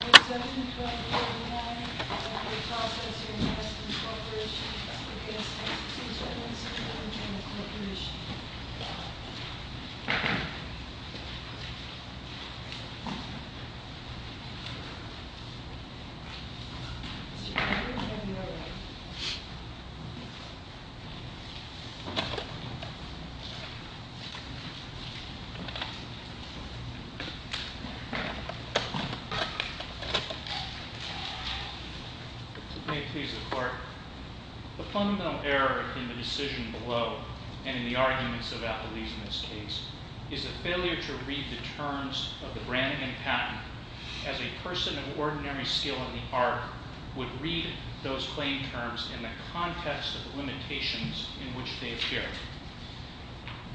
Boom 72089, Process Enhance Corporation v. Texas Insurance, north Terena Corporation allied The fundamental error in the decision below, and in the arguments of Applebee's in this case, is a failure to read the terms of the brand and patent as a person of ordinary skill in the art would read those claim terms in the context of the limitations in which they appear.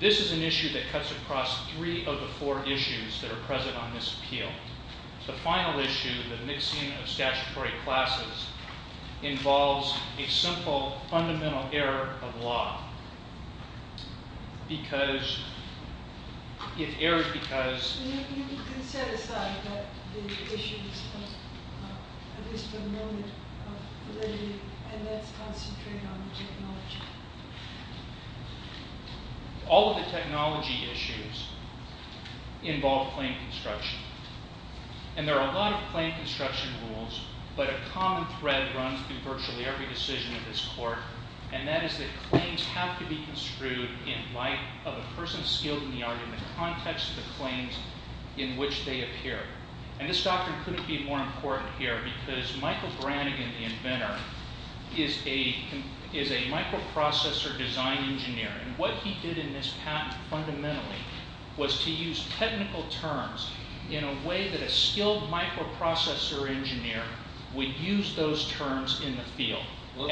This is an issue that cuts across three of the four issues that are present on this appeal. The final issue, the mixing of statutory classes, involves a simple fundamental error of law. All of the technology issues involve claim construction. And there are a lot of claim construction rules, but a common thread runs through virtually every decision of this court. And that is that claims have to be construed in light of a person skilled in the art in the context of the claims in which they appear. And this doctrine couldn't be more important here because Michael Branigan, the inventor, is a microprocessor design engineer. And what he did in this patent, fundamentally, was to use technical terms in a way that a skilled microprocessor engineer would use those terms in the field. The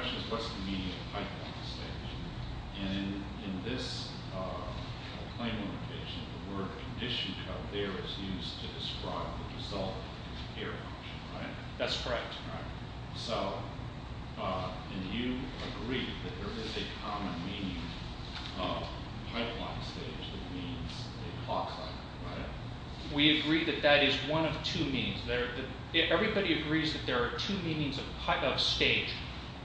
question is, what's the meaning of pipeline stage? And in this claim litigation, the word condition code there is used to describe the result of the error function, right? That's correct. And you agree that there is a common meaning of pipeline stage that means a clock cycle, right? We agree that that is one of two meanings. Everybody agrees that there are two meanings of stage.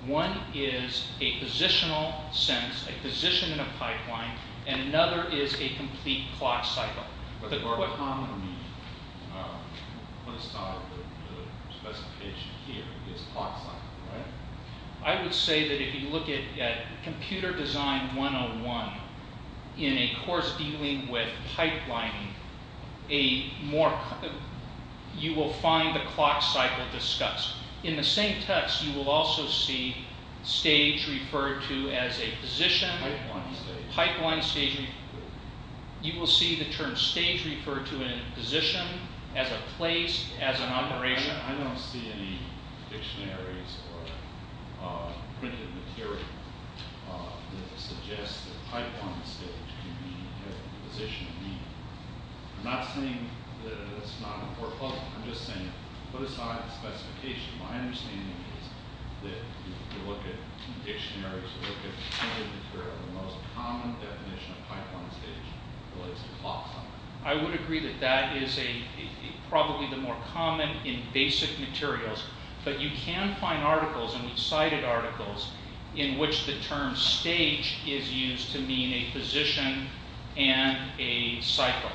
One is a positional sense, a position in a pipeline, and another is a complete clock cycle. But the common meaning, when it's not the specification here, is clock cycle, right? I would say that if you look at computer design 101 in a course dealing with pipelining, you will find the clock cycle discussed. In the same text, you will also see stage referred to as a position. Pipeline stage. Pipeline stage. You will see the term stage referred to as a position, as a place, as an operation. I don't see any dictionaries or printed material that suggests that pipeline stage can be the position of meaning. I'm not saying that it's not important. I'm just saying, put aside the specification. My understanding is that if you look at dictionaries, if you look at printed material, the most common definition of pipeline stage relates to clock cycle. I would agree that that is probably the more common in basic materials. But you can find articles, and we've cited articles, in which the term stage is used to mean a position and a cycle.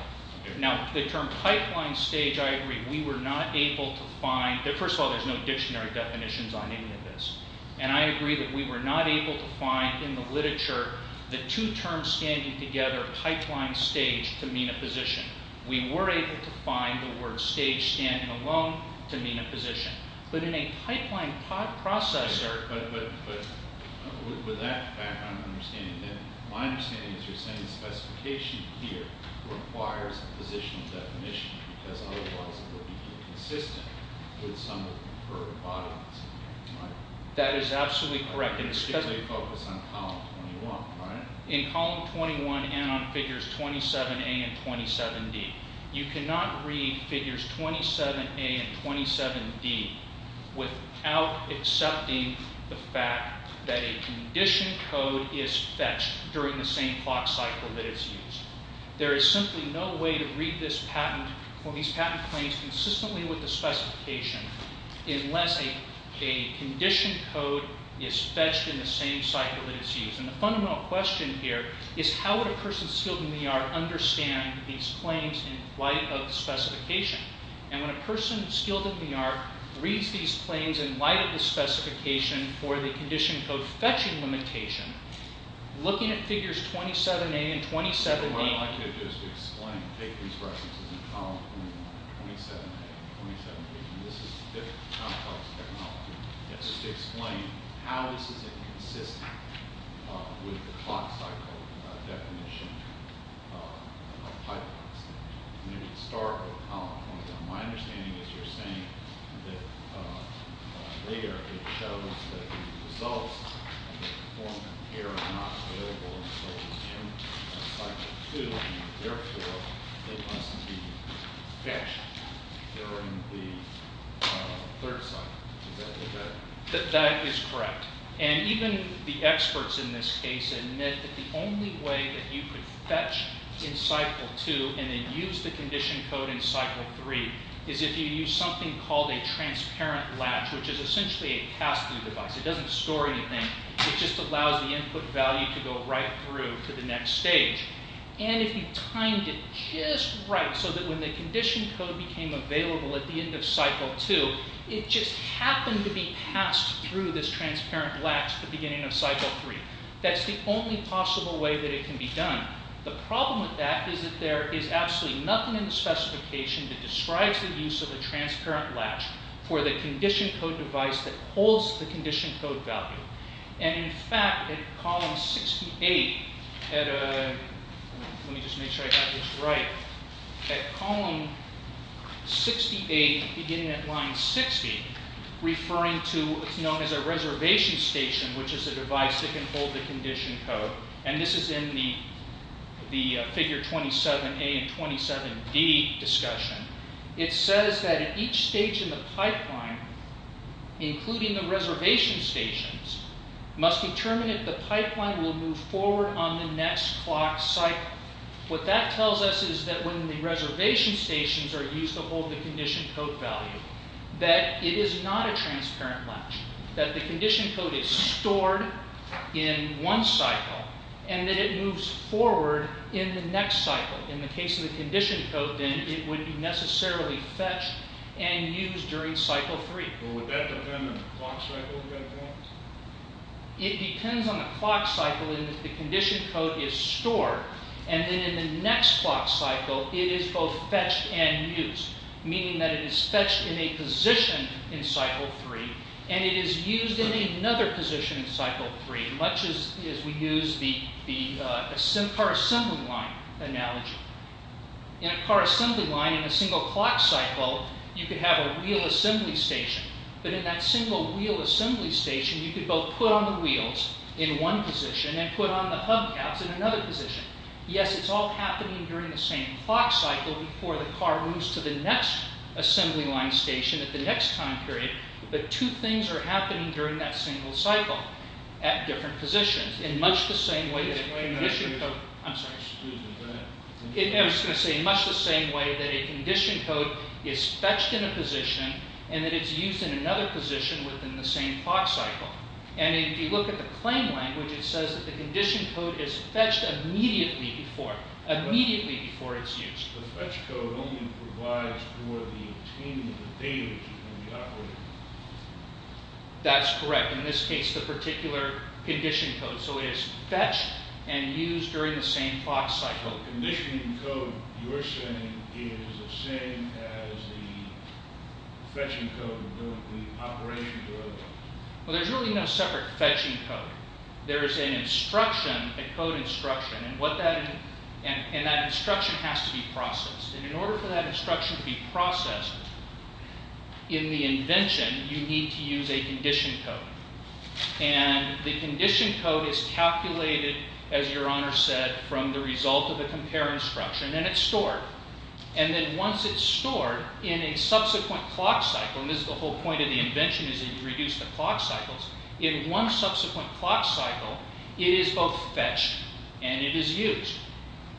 Now, the term pipeline stage, I agree, we were not able to find. First of all, there's no dictionary definitions on any of this. And I agree that we were not able to find in the literature the two terms standing together, pipeline stage, to mean a position. We were able to find the word stage standing alone to mean a position. But in a pipeline processor... My understanding is you're saying the specification here requires a positional definition, because otherwise it would be inconsistent with some of the preferred bodies. That is absolutely correct. Particularly focused on column 21, right? In column 21 and on figures 27A and 27D, you cannot read figures 27A and 27D without accepting the fact that a condition code is fetched during the same clock cycle that it's used. There is simply no way to read this patent or these patent claims consistently with the specification unless a condition code is fetched in the same cycle that it's used. And the fundamental question here is how would a person skilled in the art understand these claims in light of the specification? And when a person skilled in the art reads these claims in light of the specification for the condition code fetching limitation, looking at figures 27A and 27D... ...to explain how this is inconsistent with the clock cycle definition of pipelines. And we can start with column 21. My understanding is you're saying that there it shows that the results of the performance here are not available until the end of cycle 2, and therefore it must be fetched during the third cycle. Is that correct? That is correct. And even the experts in this case admit that the only way that you could fetch in cycle 2 and then use the condition code in cycle 3 is if you use something called a transparent latch, which is essentially a pass-through device. It doesn't store anything. It just allows the input value to go right through to the next stage. And if you timed it just right so that when the condition code became available at the end of cycle 2, it just happened to be passed through this transparent latch at the beginning of cycle 3. That's the only possible way that it can be done. The problem with that is that there is absolutely nothing in the specification that describes the use of a transparent latch for the condition code device that holds the condition code value. And in fact, at column 68, beginning at line 60, referring to what's known as a reservation station, which is a device that can hold the condition code, and this is in the figure 27A and 27D discussion, it says that at each stage in the pipeline, including the reservation stations, must determine if the pipeline will move forward on the next clock cycle. What that tells us is that when the reservation stations are used to hold the condition code value, that it is not a transparent latch, that the condition code is stored in one cycle, and that it moves forward in the next cycle. In the case of the condition code, then, it would be necessarily fetched and used during cycle 3. Would that depend on the clock cycle? It depends on the clock cycle in that the condition code is stored, and then in the next clock cycle, it is both fetched and used, meaning that it is fetched in a position in cycle 3, and it is used in another position in cycle 3, much as we use the car assembly line analogy. In a car assembly line, in a single clock cycle, you could have a wheel assembly station, but in that single wheel assembly station, you could both put on the wheels in one position and put on the hubcaps in another position. Yes, it's all happening during the same clock cycle, before the car moves to the next assembly line station at the next time period, but two things are happening during that single cycle at different positions, in much the same way that a condition code is fetched in a position, and that it is used in another position within the same clock cycle. If you look at the claim language, it says that the condition code is fetched immediately before it is used. The fetch code only provides for the obtaining of the data during the operation. That's correct. In this case, the particular condition code. So it is fetched and used during the same clock cycle. The condition code, you're saying, is the same as the fetching code during the operation? Well, there's really no separate fetching code. There is an instruction, a code instruction, and that instruction has to be processed. And in order for that instruction to be processed in the invention, you need to use a condition code. And the condition code is calculated, as Your Honor said, from the result of a compare instruction, and it's stored. And then once it's stored, in a subsequent clock cycle, and this is the whole point of the invention is that you reduce the clock cycles, in one subsequent clock cycle, it is both fetched and it is used.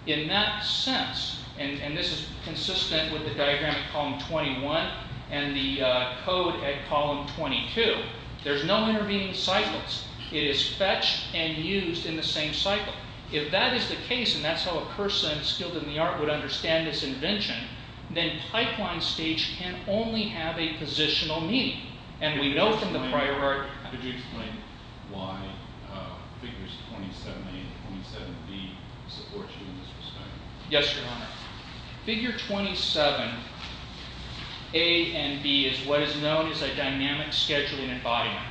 In that sense, and this is consistent with the diagram at column 21 and the code at column 22, there's no intervening cycles. It is fetched and used in the same cycle. If that is the case, and that's how a person skilled in the art would understand this invention, then pipeline stage can only have a positional meaning. And we know from the prior work... Could you explain why figures 27A and 27B support you in this respect? Yes, Your Honor. Figure 27A and B is what is known as a dynamic scheduling embodiment.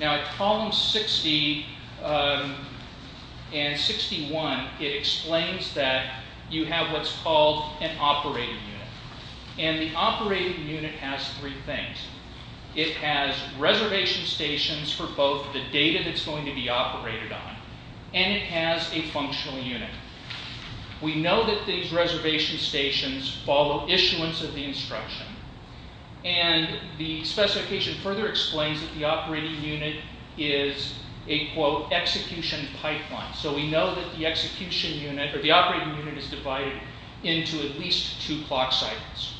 Now, at columns 60 and 61, it explains that you have what's called an operating unit. And the operating unit has three things. It has reservation stations for both the data that's going to be operated on, and it has a functional unit. We know that these reservation stations follow issuance of the instruction. And the specification further explains that the operating unit is a, quote, execution pipeline. So we know that the execution unit, or the operating unit, is divided into at least two clock cycles.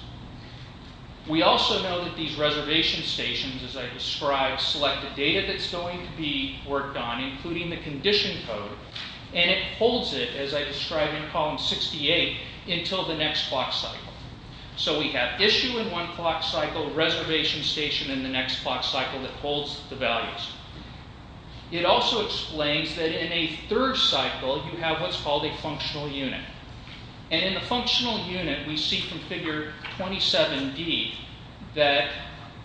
We also know that these reservation stations, as I described, select the data that's going to be worked on, including the condition code, and it holds it, as I described in column 68, until the next clock cycle. So we have issue in one clock cycle, reservation station in the next clock cycle that holds the values. It also explains that in a third cycle, you have what's called a functional unit. And in the functional unit, we see from figure 27D that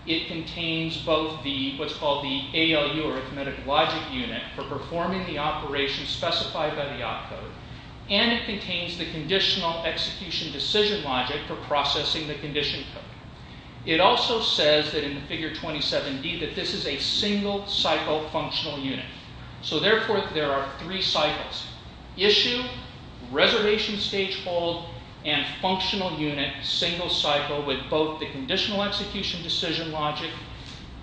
it contains both what's called the ALU, arithmetic logic unit, for performing the operation specified by the op code, and it contains the conditional execution decision logic for processing the condition code. It also says that in the figure 27D that this is a single cycle functional unit. So therefore, there are three cycles. Issue, reservation stage hold, and functional unit, single cycle, with both the conditional execution decision logic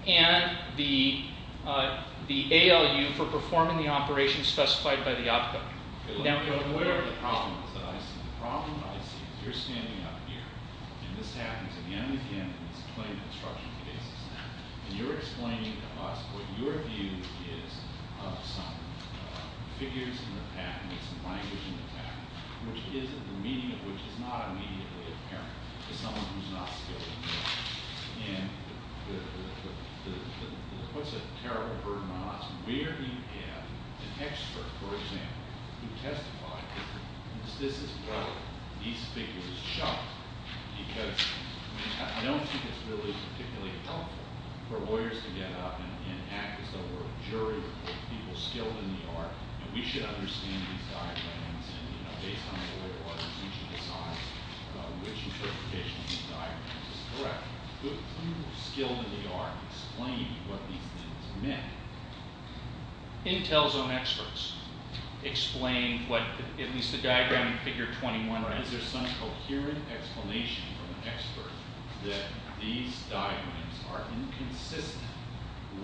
and the ALU for performing the operation specified by the op code. Whatever the problem is that I see, the problem that I see is you're standing up here, and this happens again and again on this plain construction basis. And you're explaining to us what your view is of some figures in the pattern, some languages in the pattern, which is the meaning of which is not immediately apparent to someone who's not skilled enough. And it puts a terrible burden on us. Where do you have an expert, for example, who testified that this is what these figures show? Because I don't think it's really particularly helpful for lawyers to get up and act as though we're a jury with people skilled in the art, and we should understand these diagrams, and based on the way lawyers usually decide which interpretation of these diagrams is correct. Who skilled in the art explained what these things meant? Intel's own experts explained what at least the diagram in figure 21. Is there some coherent explanation from an expert that these diagrams are inconsistent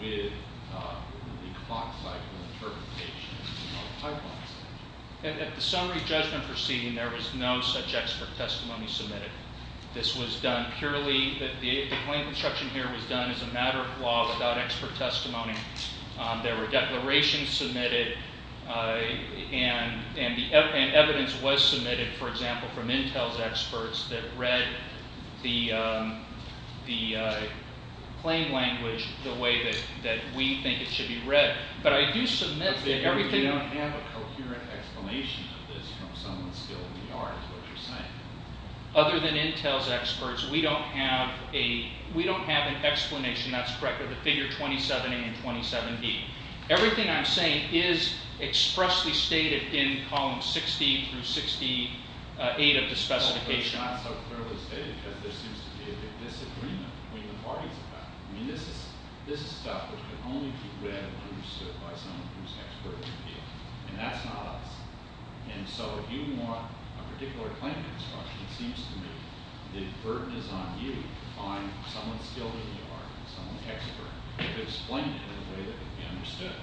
with the clock cycle interpretation of pipelines? At the summary judgment proceeding, there was no such expert testimony submitted. This was done purely, the plain construction here was done as a matter of law without expert testimony. There were declarations submitted, and evidence was submitted, for example, from Intel's experts that read the plain language the way that we think it should be read. But we don't have a coherent explanation of this from someone skilled in the art is what you're saying. Other than Intel's experts, we don't have an explanation that's correct for the figure 27A and 27B. Everything I'm saying is expressly stated in column 60 through 68 of the specification. But it's not so clearly stated because there seems to be a disagreement between the parties about it. I mean, this is stuff that can only be read and understood by someone who's expert in the field, and that's not us. And so if you want a particular plain construction, it seems to me the burden is on you to find someone skilled in the art and someone expert who could explain it in a way that could be understood.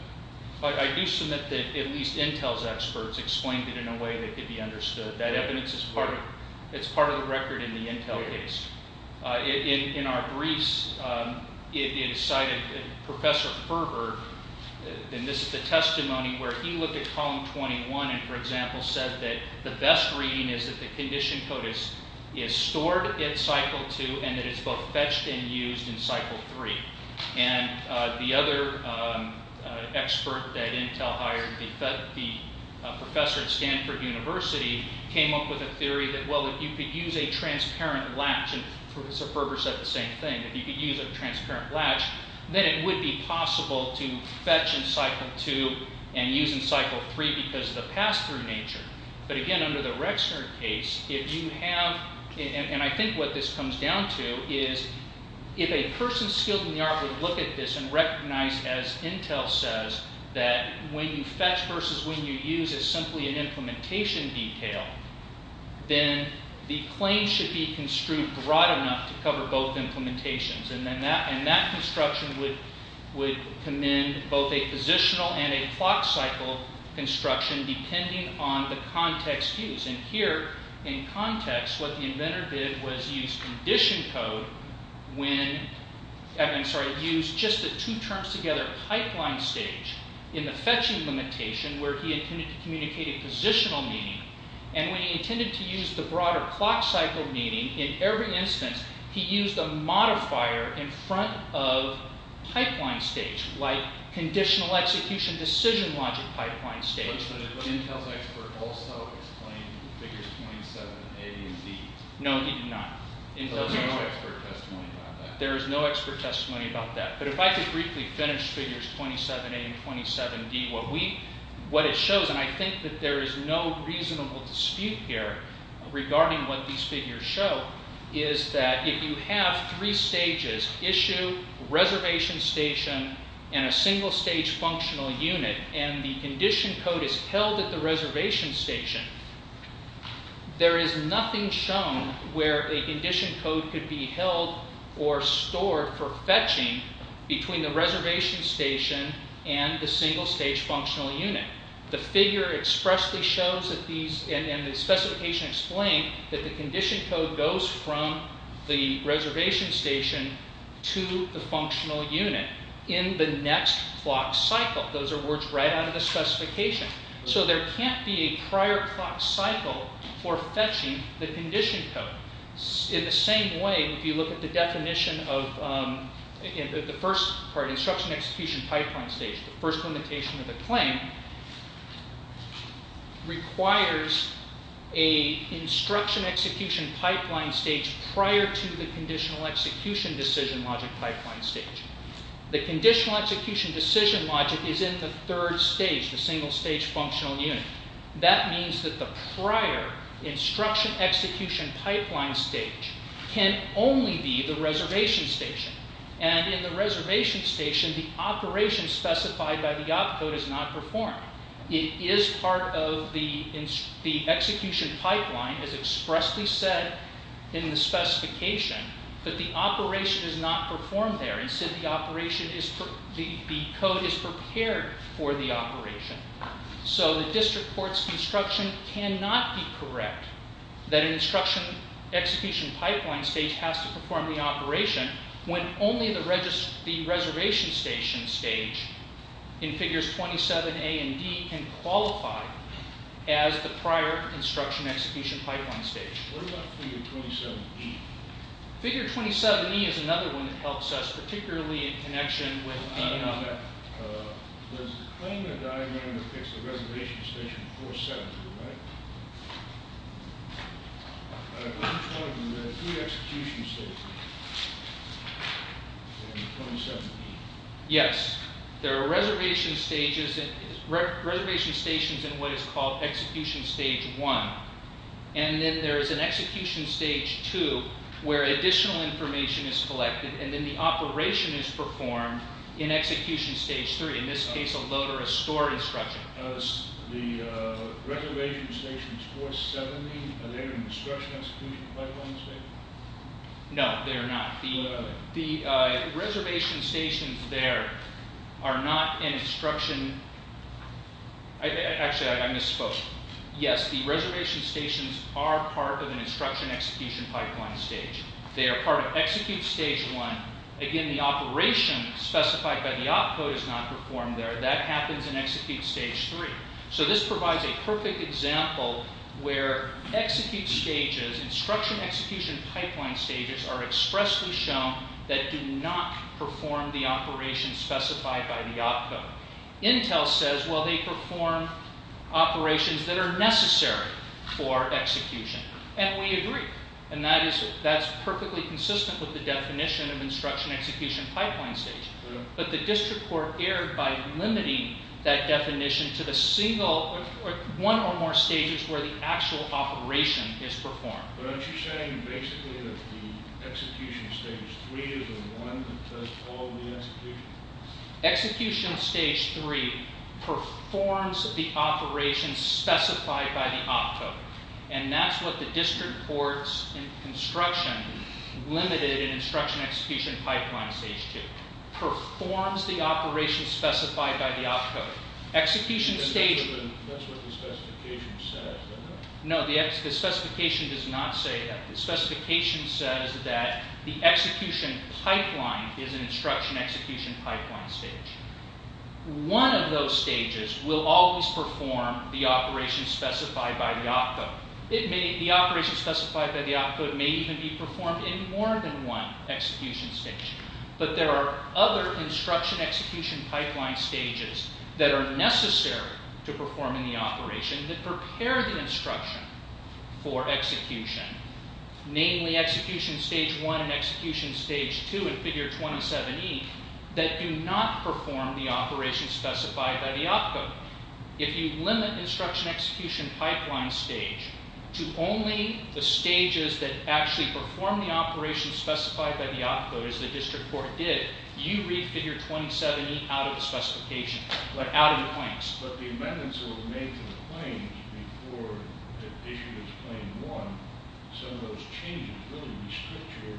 But I do submit that at least Intel's experts explained it in a way that could be understood. That evidence is part of the record in the Intel case. In our briefs, it cited Professor Ferber, and this is the testimony where he looked at column 21 and, for example, said that the best reading is that the condition code is stored in cycle 2 and that it's both fetched and used in cycle 3. And the other expert that Intel hired, the professor at Stanford University, came up with a theory that, well, if you could use a transparent latch, and Professor Ferber said the same thing, if you could use a transparent latch, then it would be possible to fetch in cycle 2 and use in cycle 3 because of the pass-through nature. But again, under the Rexner case, if you have – and I think what this comes down to is if a person skilled in the art would look at this and recognize, as Intel says, that when you fetch versus when you use is simply an implementation detail, then the claim should be construed broad enough to cover both implementations. And that construction would commend both a positional and a clock cycle construction depending on the context used. And here, in context, what the inventor did was use condition code when – I'm sorry, used just the two terms together, pipeline stage, in the fetching limitation where he intended to communicate a positional meaning. And when he intended to use the broader clock cycle meaning, in every instance, he used a modifier in front of pipeline stage, like conditional execution decision logic pipeline stage. But did Intel's expert also explain figures .7, A, B, and C? No, he did not. So there's no expert testimony about that? There is no expert testimony about that. But if I could briefly finish figures 27A and 27D, what we – what it shows, and I think that there is no reasonable dispute here regarding what these figures show, is that if you have three stages, issue, reservation station, and a single stage functional unit, and the condition code is held at the reservation station, there is nothing shown where a condition code could be held or stored for fetching between the reservation station and the single stage functional unit. The figure expressly shows that these – and the specification explains that the condition code goes from the reservation station to the functional unit in the next clock cycle. Those are words right out of the specification. So there can't be a prior clock cycle for fetching the condition code. In the same way, if you look at the definition of the first part, instruction execution pipeline stage, the first limitation of the claim requires a instruction execution pipeline stage prior to the conditional execution decision logic pipeline stage. The conditional execution decision logic is in the third stage, the single stage functional unit. That means that the prior instruction execution pipeline stage can only be the reservation station. And in the reservation station, the operation specified by the op code is not performed. It is part of the execution pipeline, as expressly said in the specification, but the operation is not performed there. Instead, the code is prepared for the operation. So the district court's instruction cannot be correct that an instruction execution pipeline stage has to perform the operation when only the reservation station stage in figures 27A and D can qualify as the prior instruction execution pipeline stage. What about figure 27E? Figure 27E is another one that helps us, particularly in connection with the... I don't know about that. There's a claim in the diagram that it's the reservation station 47, right? I'm just wondering, there are three execution stages in 27E. Yes, there are reservation stations in what is called execution stage one. And then there is an execution stage two where additional information is collected, and then the operation is performed in execution stage three. In this case, a load or a store instruction. The reservation stations 470, are they an instruction execution pipeline stage? No, they're not. The reservation stations there are not an instruction... Actually, I misspoke. Yes, the reservation stations are part of an instruction execution pipeline stage. They are part of execute stage one. Again, the operation specified by the op code is not performed there. That happens in execute stage three. So this provides a perfect example where execute stages, instruction execution pipeline stages, are expressly shown that do not perform the operation specified by the op code. Intel says, well, they perform operations that are necessary for execution. And we agree. And that is perfectly consistent with the definition of instruction execution pipeline stage. But the district court erred by limiting that definition to the single, one or more stages where the actual operation is performed. But aren't you saying basically that the execution stage three is the one that does all the execution? Execution stage three performs the operation specified by the op code. And that's what the district courts in construction limited in instruction execution pipeline stage two. Performs the operation specified by the op code. Execution stage... That's what the specification says, isn't it? No, the specification does not say that. The specification says that the execution pipeline is an instruction execution pipeline stage. One of those stages will always perform the operation specified by the op code. The operation specified by the op code may even be performed in more than one execution stage. But there are other instruction execution pipeline stages that are necessary to perform in the operation that prepare the instruction for execution. Namely execution stage one and execution stage two in figure 27E that do not perform the operation specified by the op code. If you limit instruction execution pipeline stage to only the stages that actually perform the operation specified by the op code as the district court did, you read figure 27E out of the specification, out of the points. But the amendments that were made to the claims before the issue was claim one, some of those changes really restrict your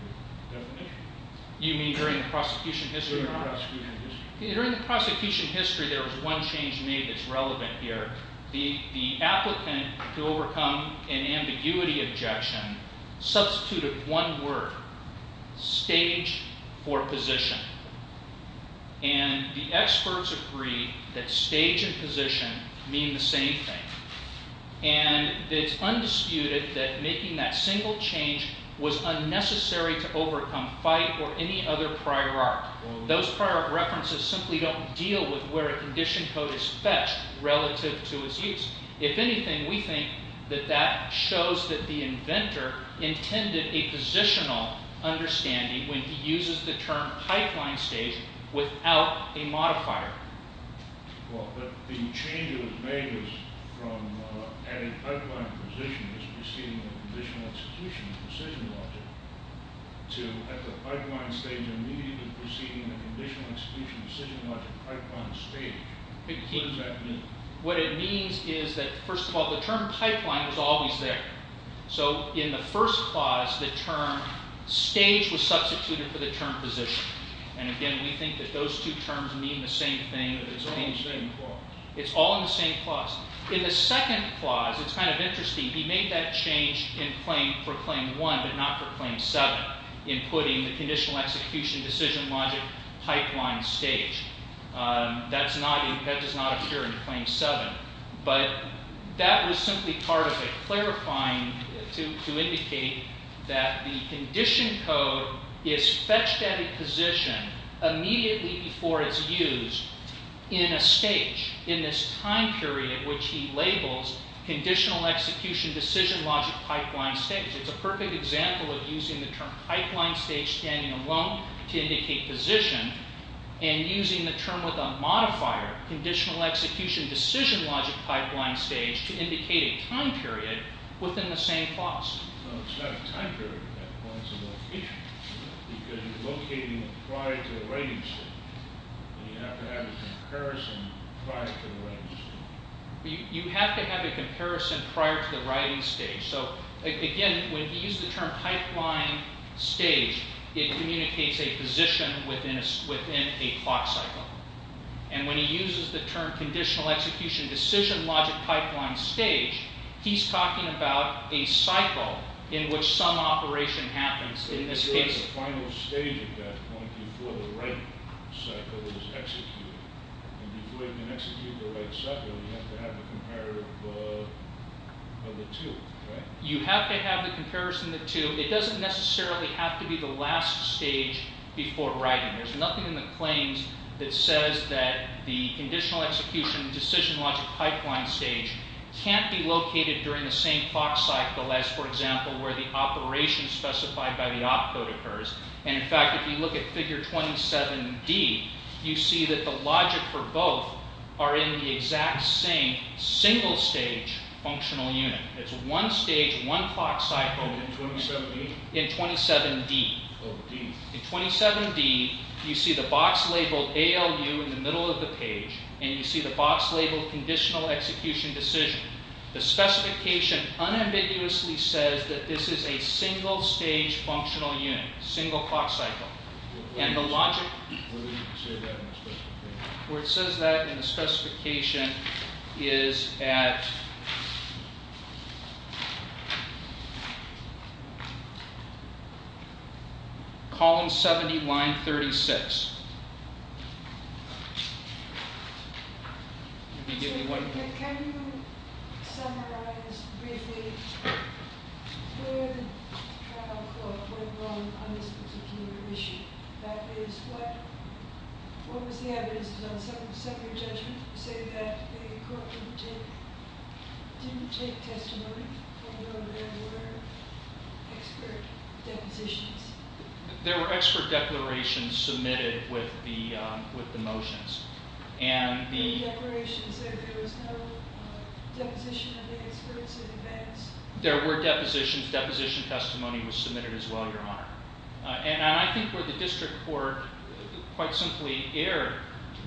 definition. You mean during the prosecution history? During the prosecution history. During the prosecution history there was one change made that's relevant here. The applicant to overcome an ambiguity objection substituted one word. Stage for position. And the experts agree that stage and position mean the same thing. And it's undisputed that making that single change was unnecessary to overcome fight or any other prior art. Those prior art references simply don't deal with where a condition code is fetched relative to its use. If anything, we think that that shows that the inventor intended a positional understanding when he uses the term pipeline stage without a modifier. Well, but the change that was made was from adding pipeline position as preceding the conditional execution of precision logic to at the pipeline stage immediately preceding the conditional execution of precision logic pipeline stage. What does that mean? What it means is that, first of all, the term pipeline was always there. So in the first clause, the term stage was substituted for the term position. And again, we think that those two terms mean the same thing. But it's all in the same clause. It's all in the same clause. In the second clause, it's kind of interesting. He made that change for claim one but not for claim seven in putting the conditional execution decision logic pipeline stage. That does not appear in claim seven. But that was simply part of a clarifying to indicate that the condition code is fetched at a position immediately before it's used in a stage in this time period which he labels conditional execution decision logic pipeline stage. It's a perfect example of using the term pipeline stage standing alone to indicate position and using the term with a modifier, conditional execution decision logic pipeline stage to indicate a time period within the same clause. It's not a time period. That point's a location. Because you're locating it prior to the writing stage. You have to have a comparison prior to the writing stage. You have to have a comparison prior to the writing stage. So, again, when he used the term pipeline stage, it communicates a position within a clock cycle. And when he uses the term conditional execution decision logic pipeline stage, he's talking about a cycle in which some operation happens in this case. You have to have a final stage at that point before the writing cycle is executed. And before you can execute the writing cycle, you have to have a comparative of the two, right? You have to have the comparison of the two. It doesn't necessarily have to be the last stage before writing. There's nothing in the claims that says that the conditional execution decision logic pipeline stage can't be located during the same clock cycle as, for example, where the operation specified by the opcode occurs. And, in fact, if you look at figure 27D, you see that the logic for both are in the exact same single stage functional unit. It's one stage, one clock cycle in 27D. In 27D, you see the box labeled ALU in the middle of the page. And you see the box labeled conditional execution decision. The specification unambiguously says that this is a single stage functional unit, single clock cycle. And the logic where it says that in the specification is at column 70, line 36. Can you give me one? Can you summarize briefly where the trial court went wrong on this particular issue? That is, what was the evidence to set your judgment to say that the court didn't take testimony, although there were expert depositions? There were expert declarations submitted with the motions. There were declarations that there was no deposition of the experts in advance? There were depositions. Deposition testimony was submitted as well, Your Honor. And I think where the district court quite simply erred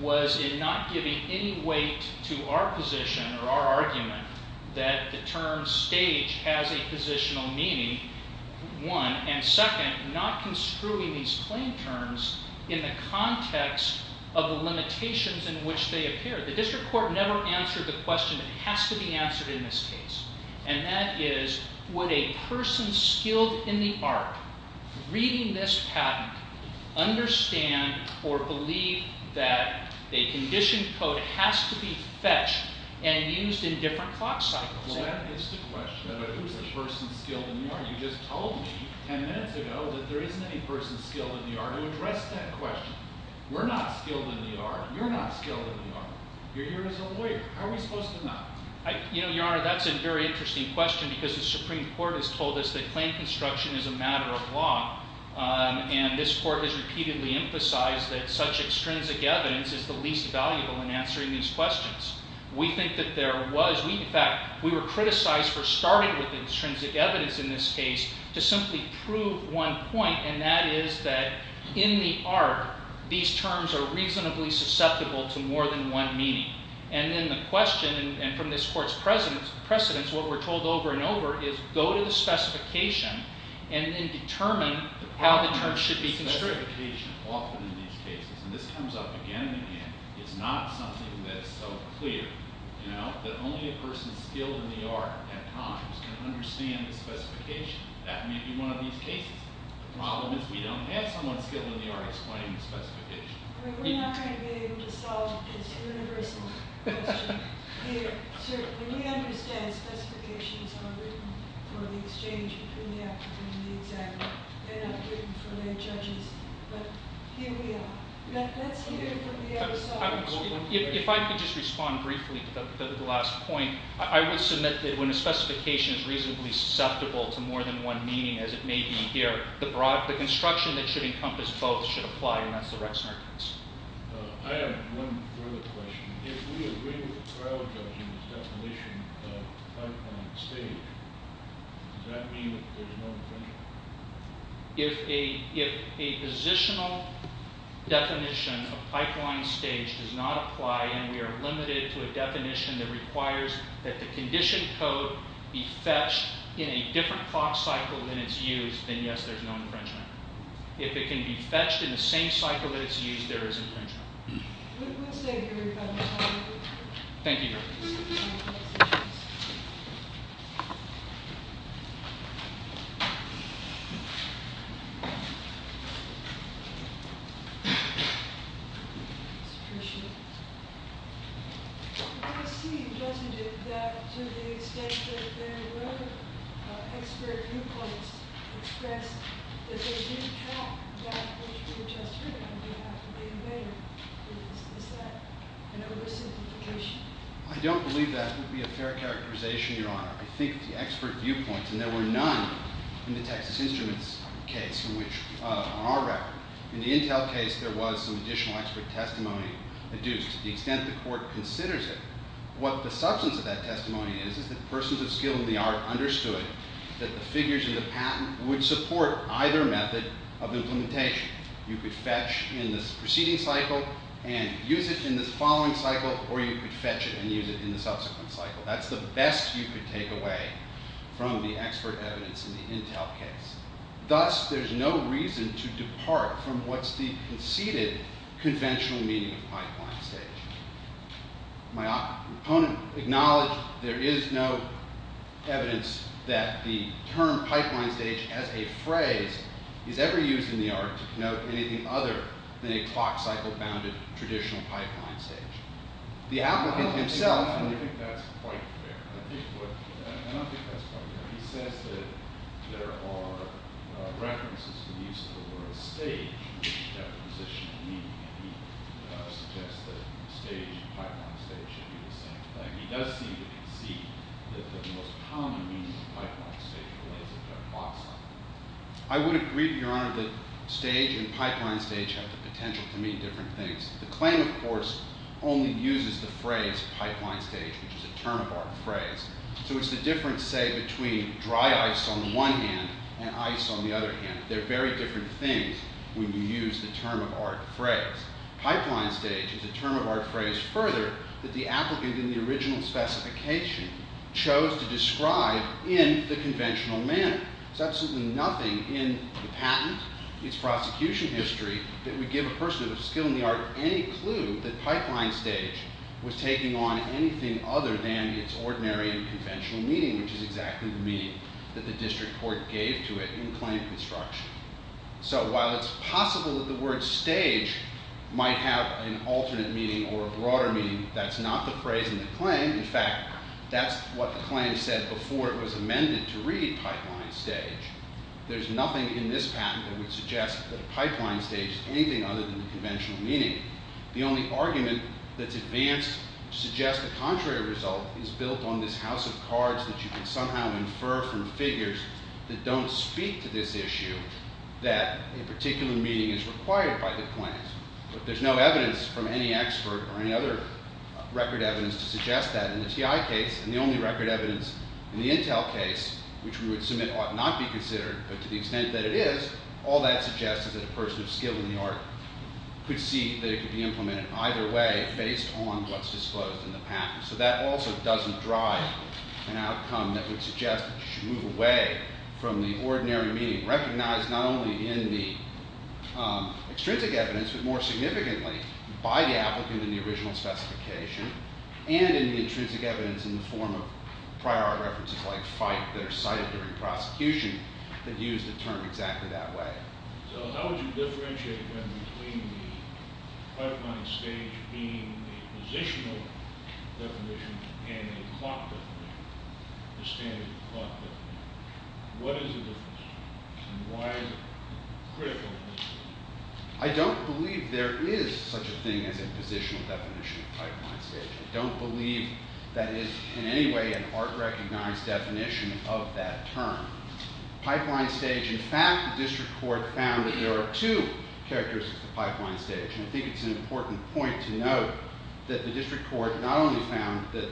was in not giving any weight to our position or our argument that the term stage has a positional meaning, one. And second, not construing these claim terms in the context of the limitations in which they appear. The district court never answered the question that has to be answered in this case. And that is, would a person skilled in the art, reading this patent, understand or believe that a condition code has to be fetched and used in different clock cycles? Well, that is the question. Who is a person skilled in the art? You just told me ten minutes ago that there isn't any person skilled in the art to address that question. We're not skilled in the art. You're not skilled in the art. You're here as a lawyer. How are we supposed to know? You know, Your Honor, that's a very interesting question because the Supreme Court has told us that claim construction is a matter of law. And this court has repeatedly emphasized that such extrinsic evidence is the least valuable in answering these questions. We think that there was. In fact, we were criticized for starting with the extrinsic evidence in this case to simply prove one point. And that is that in the art, these terms are reasonably susceptible to more than one meaning. And then the question, and from this court's precedence, what we're told over and over is go to the specification and then determine how the terms should be construed. The problem with specification often in these cases, and this comes up again and again, is not something that's so clear, you know, that only a person skilled in the art at times can understand the specification. That may be one of these cases. The problem is we don't have someone skilled in the art explaining the specification. We're not going to be able to solve this universal question here. Sir, we understand specifications are written for the exchange between the applicant and the examiner. They're not written for their judges. But here we are. Let's hear from the other side. If I could just respond briefly to the last point, I would submit that when a specification is reasonably susceptible to more than one meaning, as it may be here, the construction that should encompass both should apply, and that's the Rex Merkins. I have one further question. If we agree with the trial judge in the definition of pipeline stage, does that mean that there's no infringement? If a positional definition of pipeline stage does not apply and we are limited to a definition that requires that the condition code be fetched in a different clock cycle than it's used, then yes, there's no infringement. If it can be fetched in the same cycle that it's used, there is infringement. We'll stay here if I may. Thank you very much. It's appreciated. It does seem, doesn't it, that to the extent that there were expert viewpoints expressed, that they didn't have that which we were just hearing about, is that an illicit infiltration? I don't believe that would be a fair characterization, Your Honor. I think the expert viewpoints, and there were none in the Texas Instruments case on our record. In the Intel case, there was some additional expert testimony adduced. To the extent the court considers it, what the substance of that testimony is is that persons of skill in the art understood that the figures in the patent would support either method of implementation. You could fetch in the preceding cycle and use it in the following cycle, or you could fetch it and use it in the subsequent cycle. That's the best you could take away from the expert evidence in the Intel case. Thus, there's no reason to depart from what's the conceded conventional meaning of pipeline stage. My opponent acknowledged there is no evidence that the term pipeline stage as a phrase is ever used in the art to denote anything other than a clock cycle bounded traditional pipeline stage. I don't think that's quite fair. I don't think that's quite fair. He says that there are references to the use of the word stage, which is a definitional meaning, and he suggests that stage, pipeline stage, should be the same thing. He does seem to concede that the most common meaning of pipeline stage relates to a clock cycle. I would agree, Your Honor, that stage and pipeline stage have the potential to mean different things. The claim, of course, only uses the phrase pipeline stage, which is a term of art phrase. So it's the difference, say, between dry ice on the one hand and ice on the other hand. They're very different things when you use the term of art phrase. Pipeline stage is a term of art phrase further that the applicant in the original specification chose to describe in the conventional manner. There's absolutely nothing in the patent, its prosecution history, that would give a person with a skill in the art any clue that pipeline stage was taking on anything other than its ordinary and conventional meaning, which is exactly the meaning that the district court gave to it in claim construction. So while it's possible that the word stage might have an alternate meaning or a broader meaning, that's not the phrase in the claim. In fact, that's what the claim said before it was amended to read pipeline stage. There's nothing in this patent that would suggest that a pipeline stage is anything other than the conventional meaning. The only argument that's advanced to suggest the contrary result is built on this house of cards that you can somehow infer from figures that don't speak to this issue that a particular meaning is required by the claims. But there's no evidence from any expert or any other record evidence to suggest that in the TI case. And the only record evidence in the Intel case, which we would submit ought not be considered, but to the extent that it is, all that suggests is that a person with skill in the art could see that it could be implemented either way based on what's disclosed in the patent. So that also doesn't drive an outcome that would suggest that you should move away from the ordinary meaning recognized not only in the extrinsic evidence, but more significantly by the applicant in the original specification and in the intrinsic evidence in the form of prior art references like fight that are cited during prosecution that use the term exactly that way. So how would you differentiate between the pipeline stage being a positional definition and a clock definition, the standard clock definition? What is the difference? And why is it critical? I don't believe there is such a thing as a positional definition of pipeline stage. I don't believe that is in any way an art recognized definition of that term. Pipeline stage, in fact, the district court found that there are two characteristics of pipeline stage. And I think it's an important point to note that the district court not only found that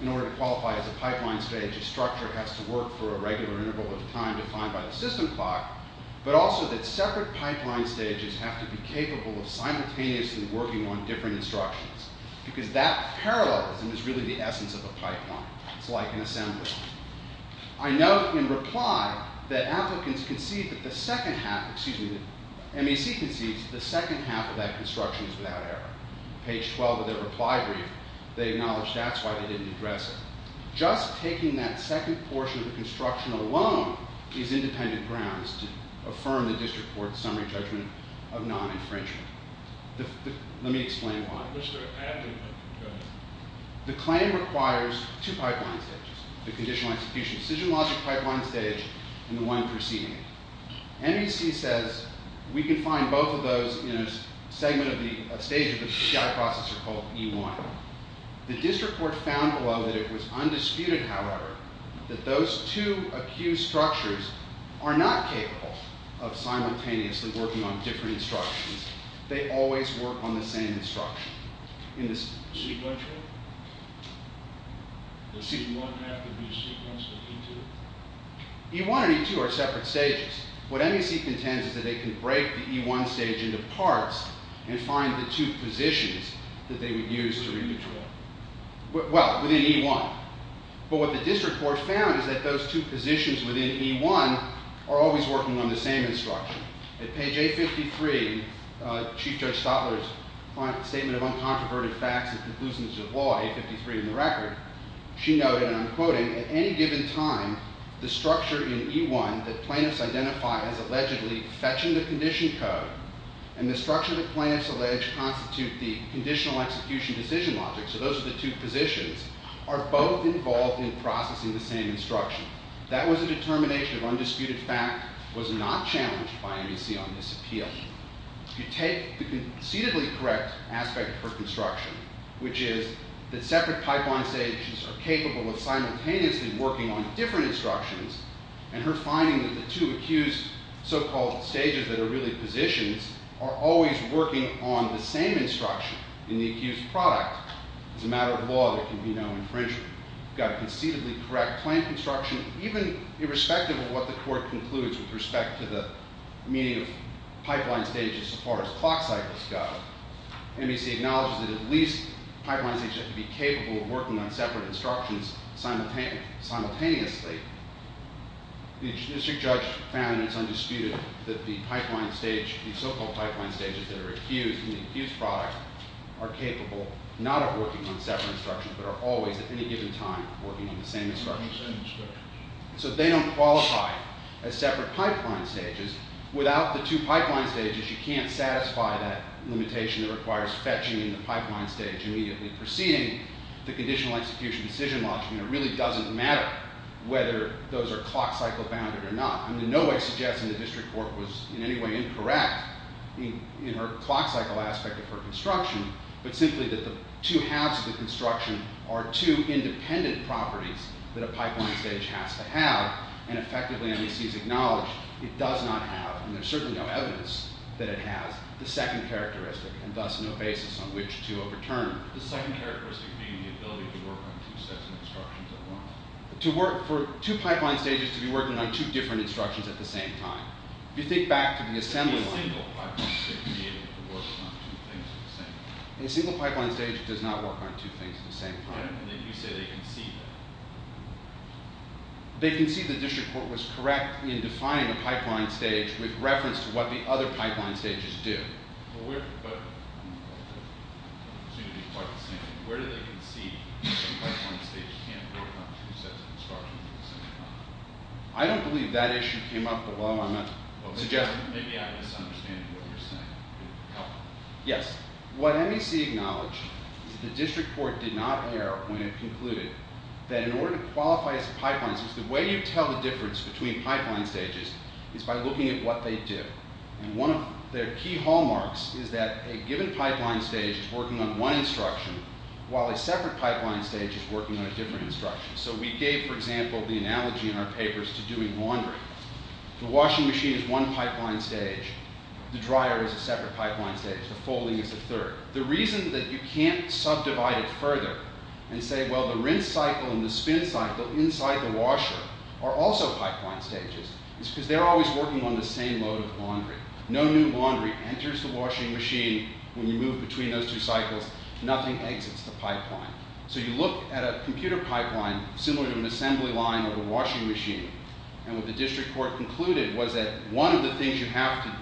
in order to qualify as a pipeline stage, a structure has to work for a regular interval of time defined by the system clock, but also that separate pipeline stages have to be capable of simultaneously working on different instructions. Because that parallelism is really the essence of a pipeline. It's like an assembly line. I note in reply that applicants concede that the second half, excuse me, MEC concedes that the second half of that construction is without error. Page 12 of their reply brief, they acknowledge that's why they didn't address it. Just taking that second portion of the construction alone is independent grounds to affirm the district court's summary judgment of non-infringement. Let me explain why. The claim requires two pipeline stages. The conditional execution decision logic pipeline stage and the one preceding it. MEC says we can find both of those in a segment of the stage of the PCI processor called E1. The district court found, although, that it was undisputed, however, that those two acute structures are not capable of simultaneously working on different instructions. They always work on the same instruction. Sequential? Does E1 have to be sequenced at E2? E1 and E2 are separate stages. What MEC contends is that they can break the E1 stage into parts and find the two positions that they would use to re-control. Well, within E1. But what the district court found is that those two positions within E1 are always working on the same instruction. At page A53, Chief Judge Stotler's Statement of Uncontroverted Facts and Conclusions of Law, A53 in the record, she noted, and I'm quoting, at any given time, the structure in E1 that plaintiffs identify as allegedly fetching the condition code and the structure that plaintiffs allege constitute the conditional execution decision logic, so those are the two positions, are both involved in processing the same instruction. That was a determination of undisputed fact. It was not challenged by MEC on this appeal. If you take the concededly correct aspect for construction, which is that separate pipeline stages are capable of simultaneously working on different instructions, and her finding that the two accused so-called stages that are really positions are always working on the same instruction in the accused product, as a matter of law, there can be no infringement. You've got a concededly correct plain construction, even irrespective of what the court concludes with respect to the meaning of pipeline stages as far as clock cycles go. MEC acknowledges that at least pipeline stages have to be capable of working on separate instructions simultaneously. The district judge found that it's undisputed that the pipeline stage, the so-called pipeline stages that are accused in the accused product, are capable not of working on separate instructions, but are always, at any given time, working on the same instructions. So they don't qualify as separate pipeline stages. Without the two pipeline stages, you can't satisfy that limitation that requires fetching in the pipeline stage immediately preceding the conditional execution decision logic, and it really doesn't matter whether those are clock cycle bounded or not. I'm in no way suggesting the district court was in any way incorrect in her clock cycle aspect of her construction, but simply that the two halves of the construction are two independent properties that a pipeline stage has to have, and effectively MEC's acknowledged it does not have, and there's certainly no evidence that it has, the second characteristic, and thus no basis on which to overturn. The second characteristic being the ability to work on two sets of instructions at once. For two pipeline stages to be working on two different instructions at the same time. If you think back to the assembly line... A single pipeline stage does not work on two things at the same time. They concede the district court was correct in defining the pipeline stage with reference to what the other pipeline stages do. I don't believe that issue came up, but while I'm not suggesting... Yes. What MEC acknowledged is that the district court did not err when it concluded that in order to qualify as a pipeline stage, the way you tell the difference between pipeline stages is by looking at what they do. And one of their key hallmarks is that a given pipeline stage is working on one instruction, while a separate pipeline stage is working on a different instruction. So we gave, for example, the analogy in our papers to doing laundry. The washing machine is one pipeline stage. The dryer is a separate pipeline stage. The folding is a third. The reason that you can't subdivide it further and say, well, the rinse cycle and the spin cycle inside the washer are also pipeline stages, is because they're always working on the same load of laundry. No new laundry enters the washing machine when you move between those two cycles. Nothing exits the pipeline. So you look at a computer pipeline similar to an assembly line or a washing machine, and what the district court concluded was that one of the things you have to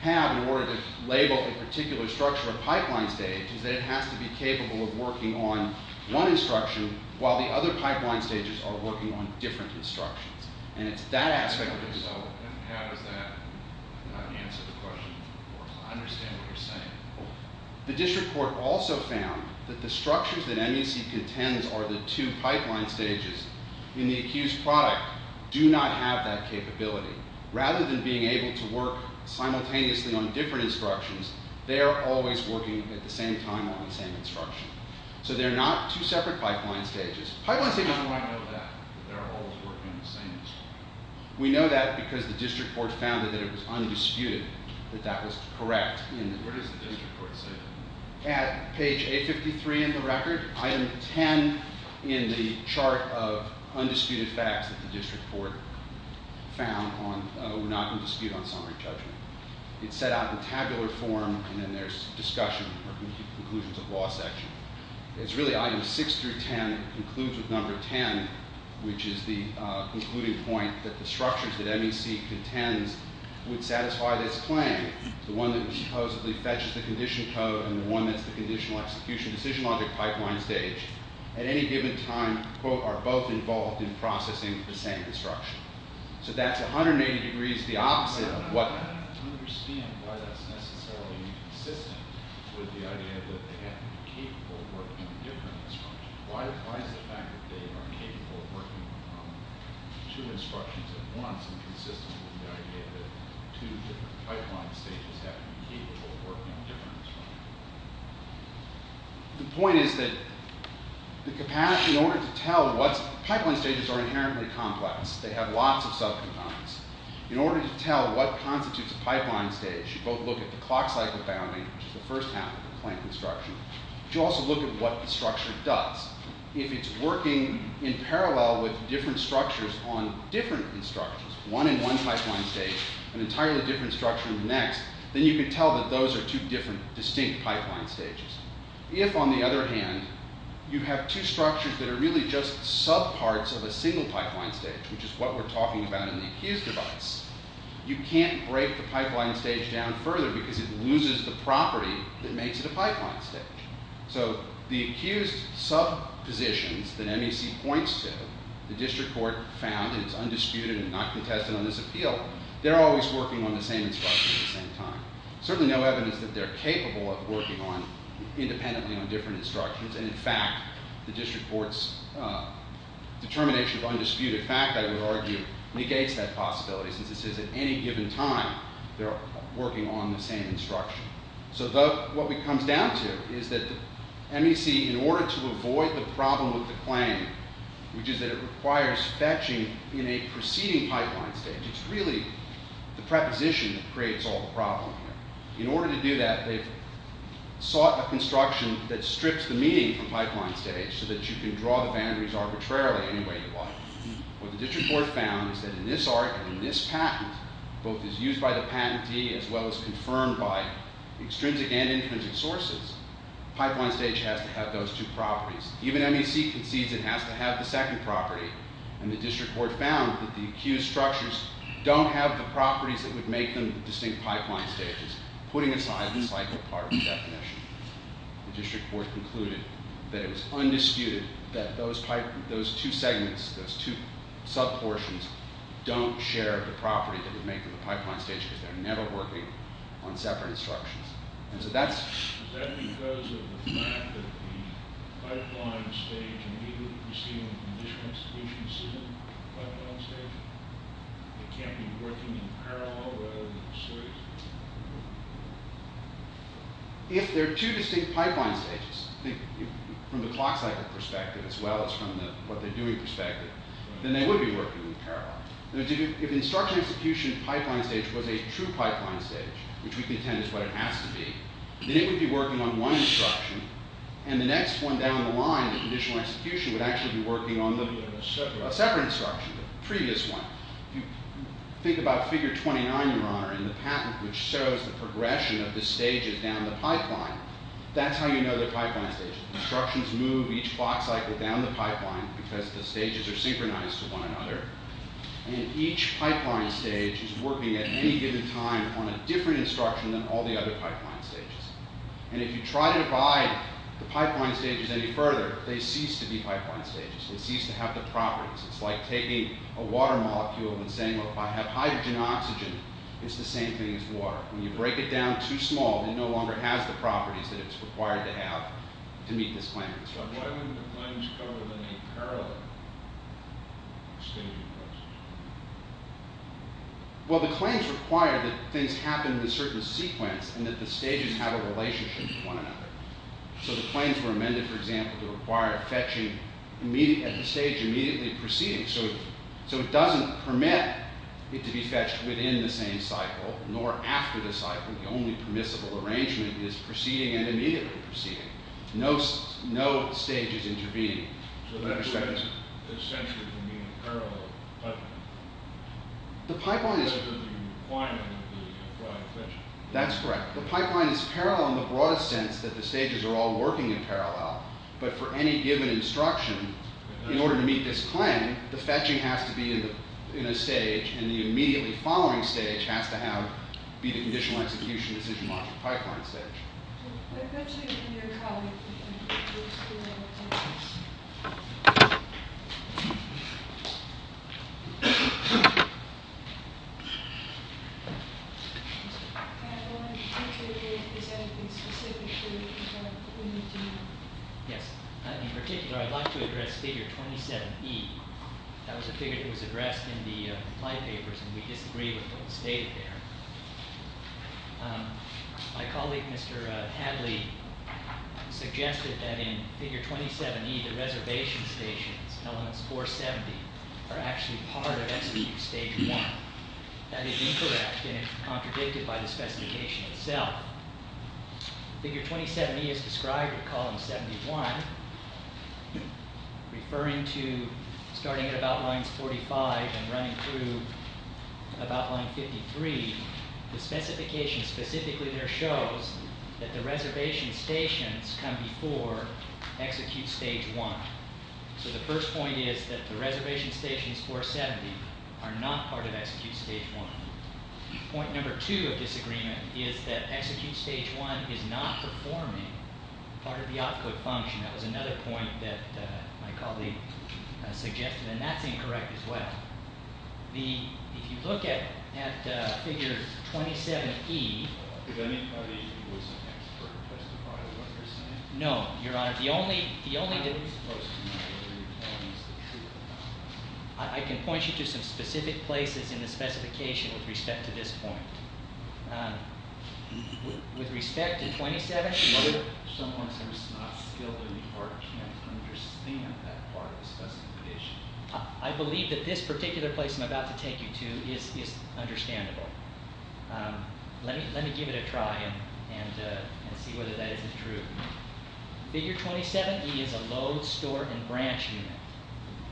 have in order to label a particular structure of pipeline stage is that it has to be capable of working on one instruction, while the other pipeline stages are working on different instructions. And it's that aspect of it. So how does that not answer the question or understand what you're saying? The district court also found that the structures that MUC contends are the two pipeline stages in the accused product do not have that capability. Rather than being able to work simultaneously on different instructions, they are always working at the same time on the same instruction. So they're not two separate pipeline stages. Pipeline stages are not like that. They're always working on the same instruction. We know that because the district court found that it was undisputed that that was correct. Where does the district court say that? At page 853 in the record, item 10 in the chart of undisputed facts that the district court found were not in dispute on summary judgment. It's set out in tabular form, and then there's discussion or conclusions of law section. It's really items 6 through 10. It concludes with number 10, which is the concluding point that the structures that MUC contends would satisfy this claim. The one that supposedly fetches the condition code and the one that's the conditional execution decision logic pipeline stage at any given time, quote, are both involved in processing the same instruction. So that's 180 degrees the opposite of what... I don't understand why that's necessarily consistent with the idea that they have to be capable of working on different instructions. Why is the fact that they are capable of working on two instructions at once inconsistent with the idea that two different pipeline stages have to be capable of working on different instructions? The point is that the capacity in order to tell what's... Pipeline stages are inherently complex. They have lots of subcomponents. In order to tell what constitutes a pipeline stage, you both look at the clock cycle bounding, which is the first half of the claim construction, but you also look at what the structure does. If it's working in parallel with different structures on different instructions, one in one pipeline stage, an entirely different structure in the next, then you can tell that those are two different distinct pipeline stages. If, on the other hand, you have two structures that are really just subparts of a single pipeline stage, which is what we're talking about in the accused device, you can't break the pipeline stage down further because it loses the property that makes it a pipeline stage. So the accused subpositions that MEC points to, the district court found, and it's undisputed and not contested on this appeal, they're always working on the same instruction at the same time. Certainly no evidence that they're capable of working on... independently on different instructions, and, in fact, the district court's determination of undisputed fact, I would argue, negates that possibility, since it says at any given time they're working on the same instruction. So what it comes down to is that MEC, in order to avoid the problem with the claim, which is that it requires fetching in a preceding pipeline stage, it's really the preposition that creates all the problem there. In order to do that, they've sought a construction that strips the meaning from pipeline stage so that you can draw the boundaries arbitrarily any way you like. What the district court found is that in this art and in this patent, both as used by the patentee as well as confirmed by extrinsic and infinite sources, pipeline stage has to have those two properties. Even MEC concedes it has to have the second property, and the district court found that the accused structures don't have the properties that would make them distinct pipeline stages, putting aside the cycle part of the definition. The district court concluded that it was undisputed that those two segments, those two subportions, don't share the property that would make them the pipeline stages. They're never working on separate instructions. Is that because of the fact that the pipeline stage immediately preceding the conditional institution isn't a pipeline stage? It can't be working in parallel rather than in series? If they're two distinct pipeline stages, from the clock cycle perspective as well as from the what they're doing perspective, then they would be working in parallel. If the instructional institution pipeline stage was a true pipeline stage, which we contend is what it has to be, then it would be working on one instruction, and the next one down the line, the conditional institution, would actually be working on a separate instruction, a previous one. Think about figure 29, Your Honor, in the patent which shows the progression of the stages down the pipeline. That's how you know they're pipeline stages. Instructions move each clock cycle down the pipeline because the stages are synchronized with one another, and each pipeline stage is working at any given time on a different instruction than all the other pipeline stages. And if you try to divide the pipeline stages any further, they cease to be pipeline stages. They cease to have the properties. It's like taking a water molecule and saying, well, if I have hydrogen and oxygen, it's the same thing as water. When you break it down too small, it no longer has the properties that it's required to have to meet this plan of instruction. But why wouldn't the claims cover them in parallel? Well, the claims require that things happen in a certain sequence and that the stages have a relationship with one another. So the claims were amended, for example, to require fetching at the stage immediately preceding. So it doesn't permit it to be fetched within the same cycle, nor after the cycle. The only permissible arrangement is preceding and immediately preceding. No stages intervening. So that prevents the stages from being in parallel with the pipeline? The pipeline is... So the requirement would be to provide fetching? That's correct. The pipeline is parallel in the broadest sense that the stages are all working in parallel. But for any given instruction, in order to meet this plan, the fetching has to be in a stage, and the immediately following stage has to have, be the conditional execution decision logic pipeline stage. I'd like to address figure 27E. That was a figure that was addressed in the flypapers, and we disagree with what was stated there. My colleague, Mr. Hadley, suggested that in figure 27E, the reservation stations, elements 470, are actually part of execute stage 1. That is incorrect, and it's contradicted by the specification itself. Figure 27E is described with column 71, referring to starting at about lines 45 and running through about line 53. The specification specifically there shows that the reservation stations come before execute stage 1. So the first point is that the reservation stations 470 are not part of execute stage 1. Point number 2 of disagreement is that execute stage 1 is not performing part of the output function. That was another point that my colleague suggested, and that's incorrect as well. If you look at figure 27E... Did anybody who was an expert testify to what you're saying? No, Your Honor. The only... I'm not supposed to know what you're telling me. I can point you to some specific places in the specification with respect to this point. With respect to 27E... What if someone who's not skilled in the art can't understand that part of the specification? I believe that this particular place I'm about to take you to is understandable. Let me give it a try and see whether that isn't true. Figure 27E is a load, store, and branch unit.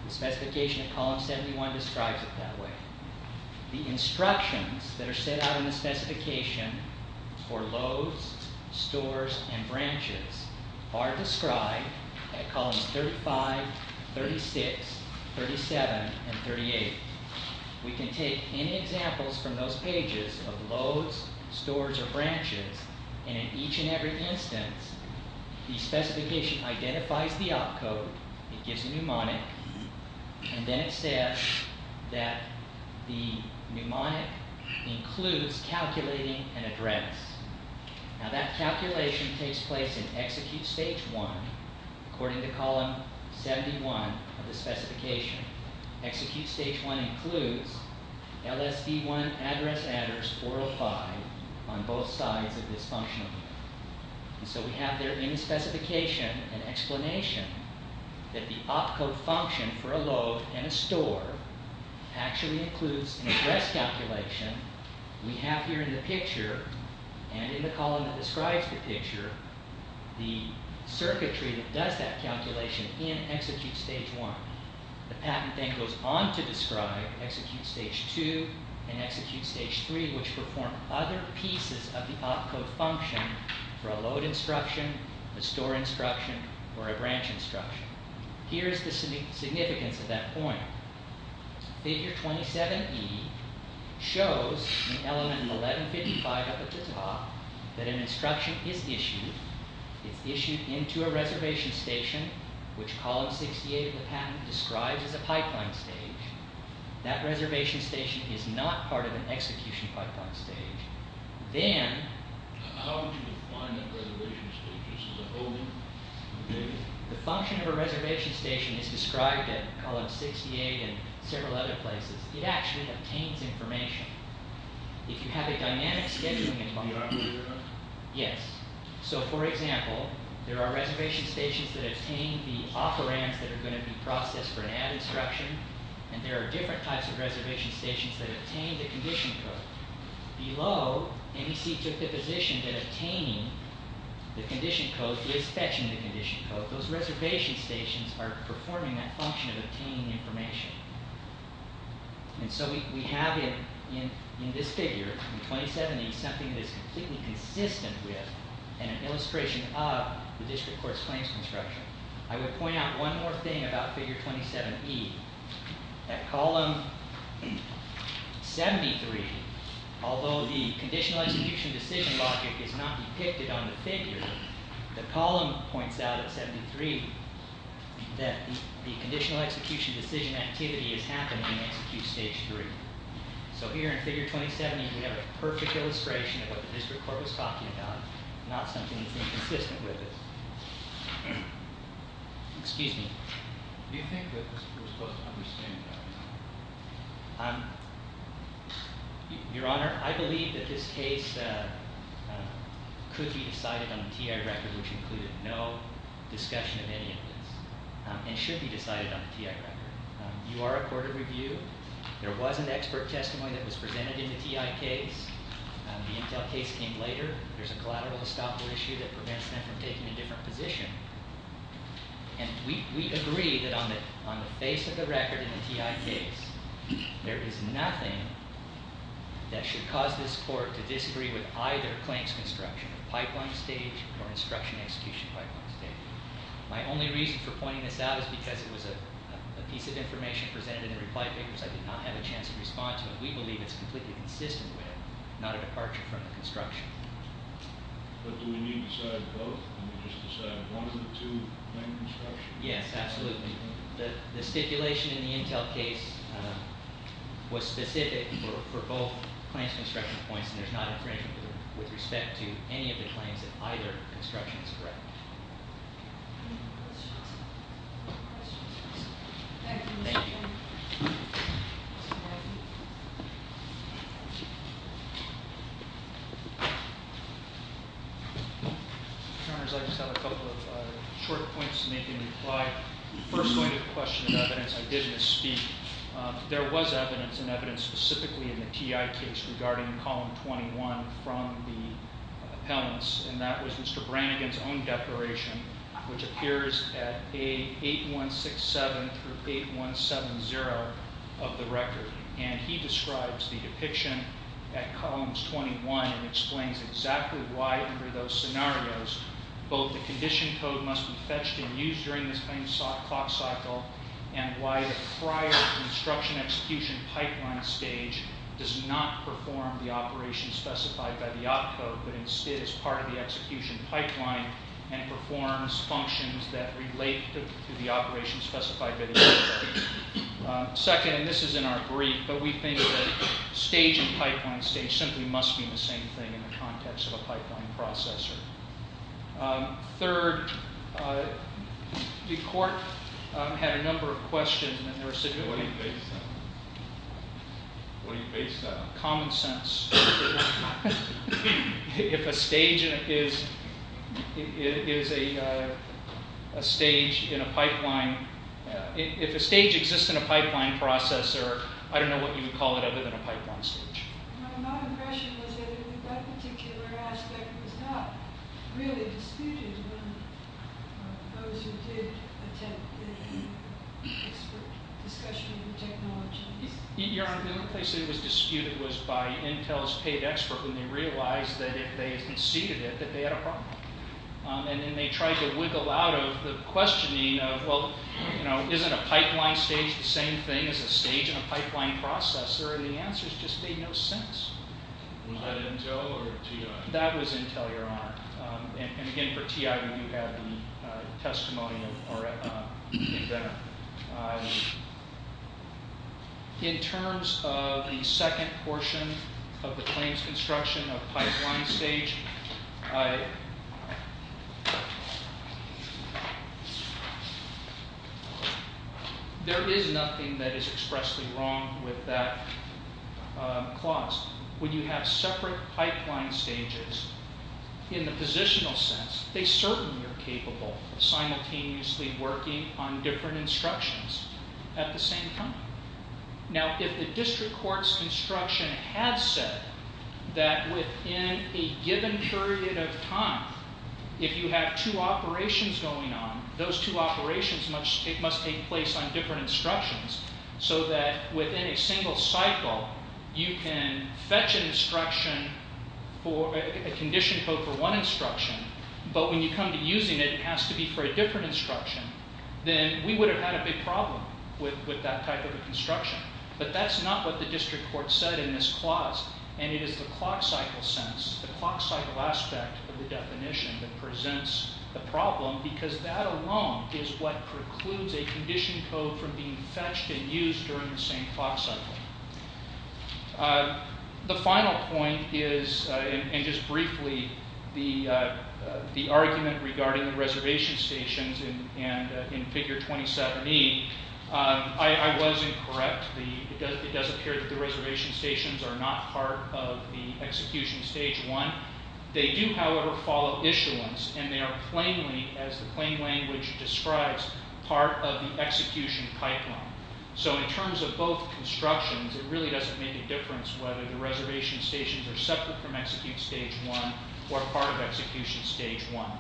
The specification in column 71 describes it that way. The instructions that are set out in the specification for loads, stores, and branches are described in columns 35, 36, 37, and 38. We can take any examples from those pages of loads, stores, or branches, and in each and every instance, the specification identifies the opcode, it gives a mnemonic, and then it says that the mnemonic includes calculating an address. Now that calculation takes place in Execute Stage 1 according to column 71 of the specification. Execute Stage 1 includes LSD1 address adders 405 on both sides of this functional unit. So we have there in the specification an explanation that the opcode function for a load and a store actually includes an address calculation we have here in the picture, and in the column that describes the picture, the circuitry that does that calculation in Execute Stage 1. The patent thing goes on to describe Execute Stage 2 and Execute Stage 3, which perform other pieces of the opcode function for a load instruction, a store instruction, or a branch instruction. Here is the significance of that point. Figure 27E shows an element in 1155 up at the top that an instruction is issued. It's issued into a reservation station, which column 68 of the patent describes as a pipeline stage. That reservation station is not part of an execution pipeline stage. Then... The function of a reservation station is described in column 68 and several other places. It actually obtains information. If you have a dynamic scheduling... Yes. So, for example, there are reservation stations that obtain the operands that are going to be processed for an add instruction, and there are different types of reservation stations that obtain the condition code. Below, NEC took the position that obtaining the condition code is fetching the condition code. But those reservation stations are performing that function of obtaining information. And so we have in this figure, in 27E, something that is completely consistent with an illustration of the district court's claims construction. I would point out one more thing about figure 27E. At column 73, although the conditional execution decision logic is not depicted on the figure, the column points out at 73 that the conditional execution decision activity is happening in execute stage 3. So here in figure 27E, we have a perfect illustration of what the district court was talking about, not something that's inconsistent with it. Excuse me. Do you think that this was supposed to understand that? Um... Your Honor, I believe that this case could be decided on the TI record, which included no discussion of any of this, and should be decided on the TI record. You are a court of review. There was an expert testimony that was presented in the TI case. The Intel case came later. There's a collateral estoppel issue that prevents them from taking a different position. And we agree that on the face of the record in the TI case, there is nothing that should cause this court to disagree with either Clank's construction of pipeline stage or instruction execution pipeline stage. My only reason for pointing this out is because it was a piece of information presented in the reply papers. I did not have a chance to respond to it. We believe it's completely consistent with it, not a departure from the construction. But do we need to decide both? Can we just decide one of the two Clank constructions? Yes, absolutely. The stipulation in the Intel case was specific for both Clank's construction points, and there's not infringement with respect to any of the claims that either construction is correct. Any questions? Thank you. Your Honors, I just have a couple of short points to make in reply. First, going to the question of evidence, I didn't speak. There was evidence, and evidence specifically in the TI case regarding Column 21 from the appellants, and that was Mr. Brannigan's own declaration, which appears at page 8167 through 8170 of the record. And he describes the depiction at Columns 21 and explains exactly why under those scenarios both the condition code must be fetched and used during this time clock cycle, and why the prior construction execution pipeline stage does not perform the operation specified by the op code, but instead is part of the execution pipeline and performs functions that relate to the operation specified by the op code. Second, and this is in our brief, but we think that stage and pipeline stage simply must mean the same thing in the context of a pipeline processor. Third, the court had a number of questions, and they were simply... What do you base that on? What do you base that on? Common sense. If a stage is a stage in a pipeline... If a stage exists in a pipeline processor, I don't know what you would call it other than a pipeline stage. My impression was that that particular aspect was not really disputed by those who did attend the expert discussion on technology. Your Honor, the only place it was disputed was by Intel's paid expert when they realized that if they conceded it, that they had a problem. And then they tried to wiggle out of the questioning of, well, isn't a pipeline stage the same thing as a stage in a pipeline processor? And the answers just made no sense. Was that Intel or TI? That was Intel, Your Honor. And again, for TI, we do have the testimony in there. In terms of the second portion of the claims construction of pipeline stage, there is nothing that is expressly wrong with that clause. When you have separate pipeline stages, in the positional sense, they certainly are capable of simultaneously working on different instructions at the same time. Now, if the district court's construction has said that within a given period of time, if you have two operations going on, those two operations must take place on different instructions, so that within a single cycle, you can fetch an instruction, a condition code for one instruction, but when you come to using it, it has to be for a different instruction, then we would have had a big problem with that type of a construction. But that's not what the district court said in this clause, and it is the clock cycle sense, the clock cycle aspect of the definition that presents the problem, because that alone is what precludes a condition code from being fetched and used during the same clock cycle. The final point is, and just briefly, the argument regarding the reservation stations in figure 27E, I was incorrect. It does appear that the reservation stations are not part of the execution stage one. They do, however, follow issuance, and they are plainly, as the plain language describes, part of the execution pipeline. So in terms of both constructions, it really doesn't make a difference whether the reservation stations are separate from execute stage one or part of execution stage one.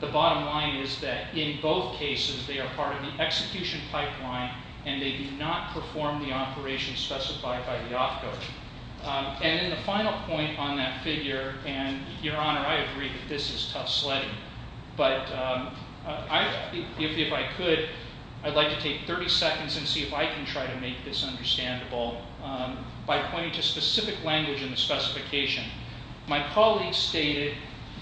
The bottom line is that in both cases, they are part of the execution pipeline, and they do not perform the operations specified by the off code. And then the final point on that figure, and Your Honor, I agree that this is tough sledding, but if I could, I'd like to take 30 seconds and see if I can try to make this understandable by pointing to specific language in the specification. My colleague stated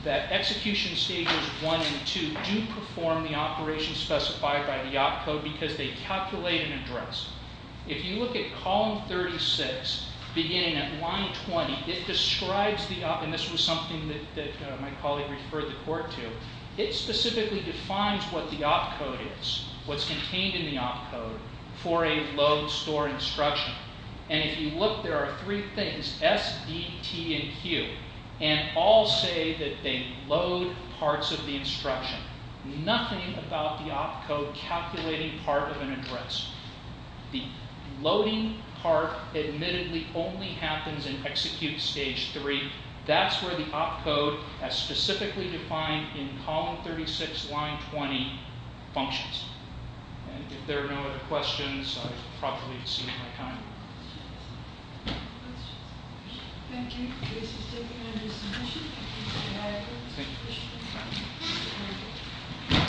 that execution stages one and two do perform the operations specified by the off code because they calculate and address. If you look at column 36, beginning at line 20, it describes the off, and this was something that my colleague referred the court to, it specifically defines what the off code is, what's contained in the off code, for a load store instruction. And if you look, there are three things, S, D, T, and Q, and all say that they load parts of the instruction. Nothing about the off code calculating part of an address. The loading part admittedly only happens in execute stage three. That's where the off code, as specifically defined in column 36, line 20, functions. And if there are no other questions, I've probably exceeded my time. Questions? Thank you. This has taken under submission. Thank you. Thank you.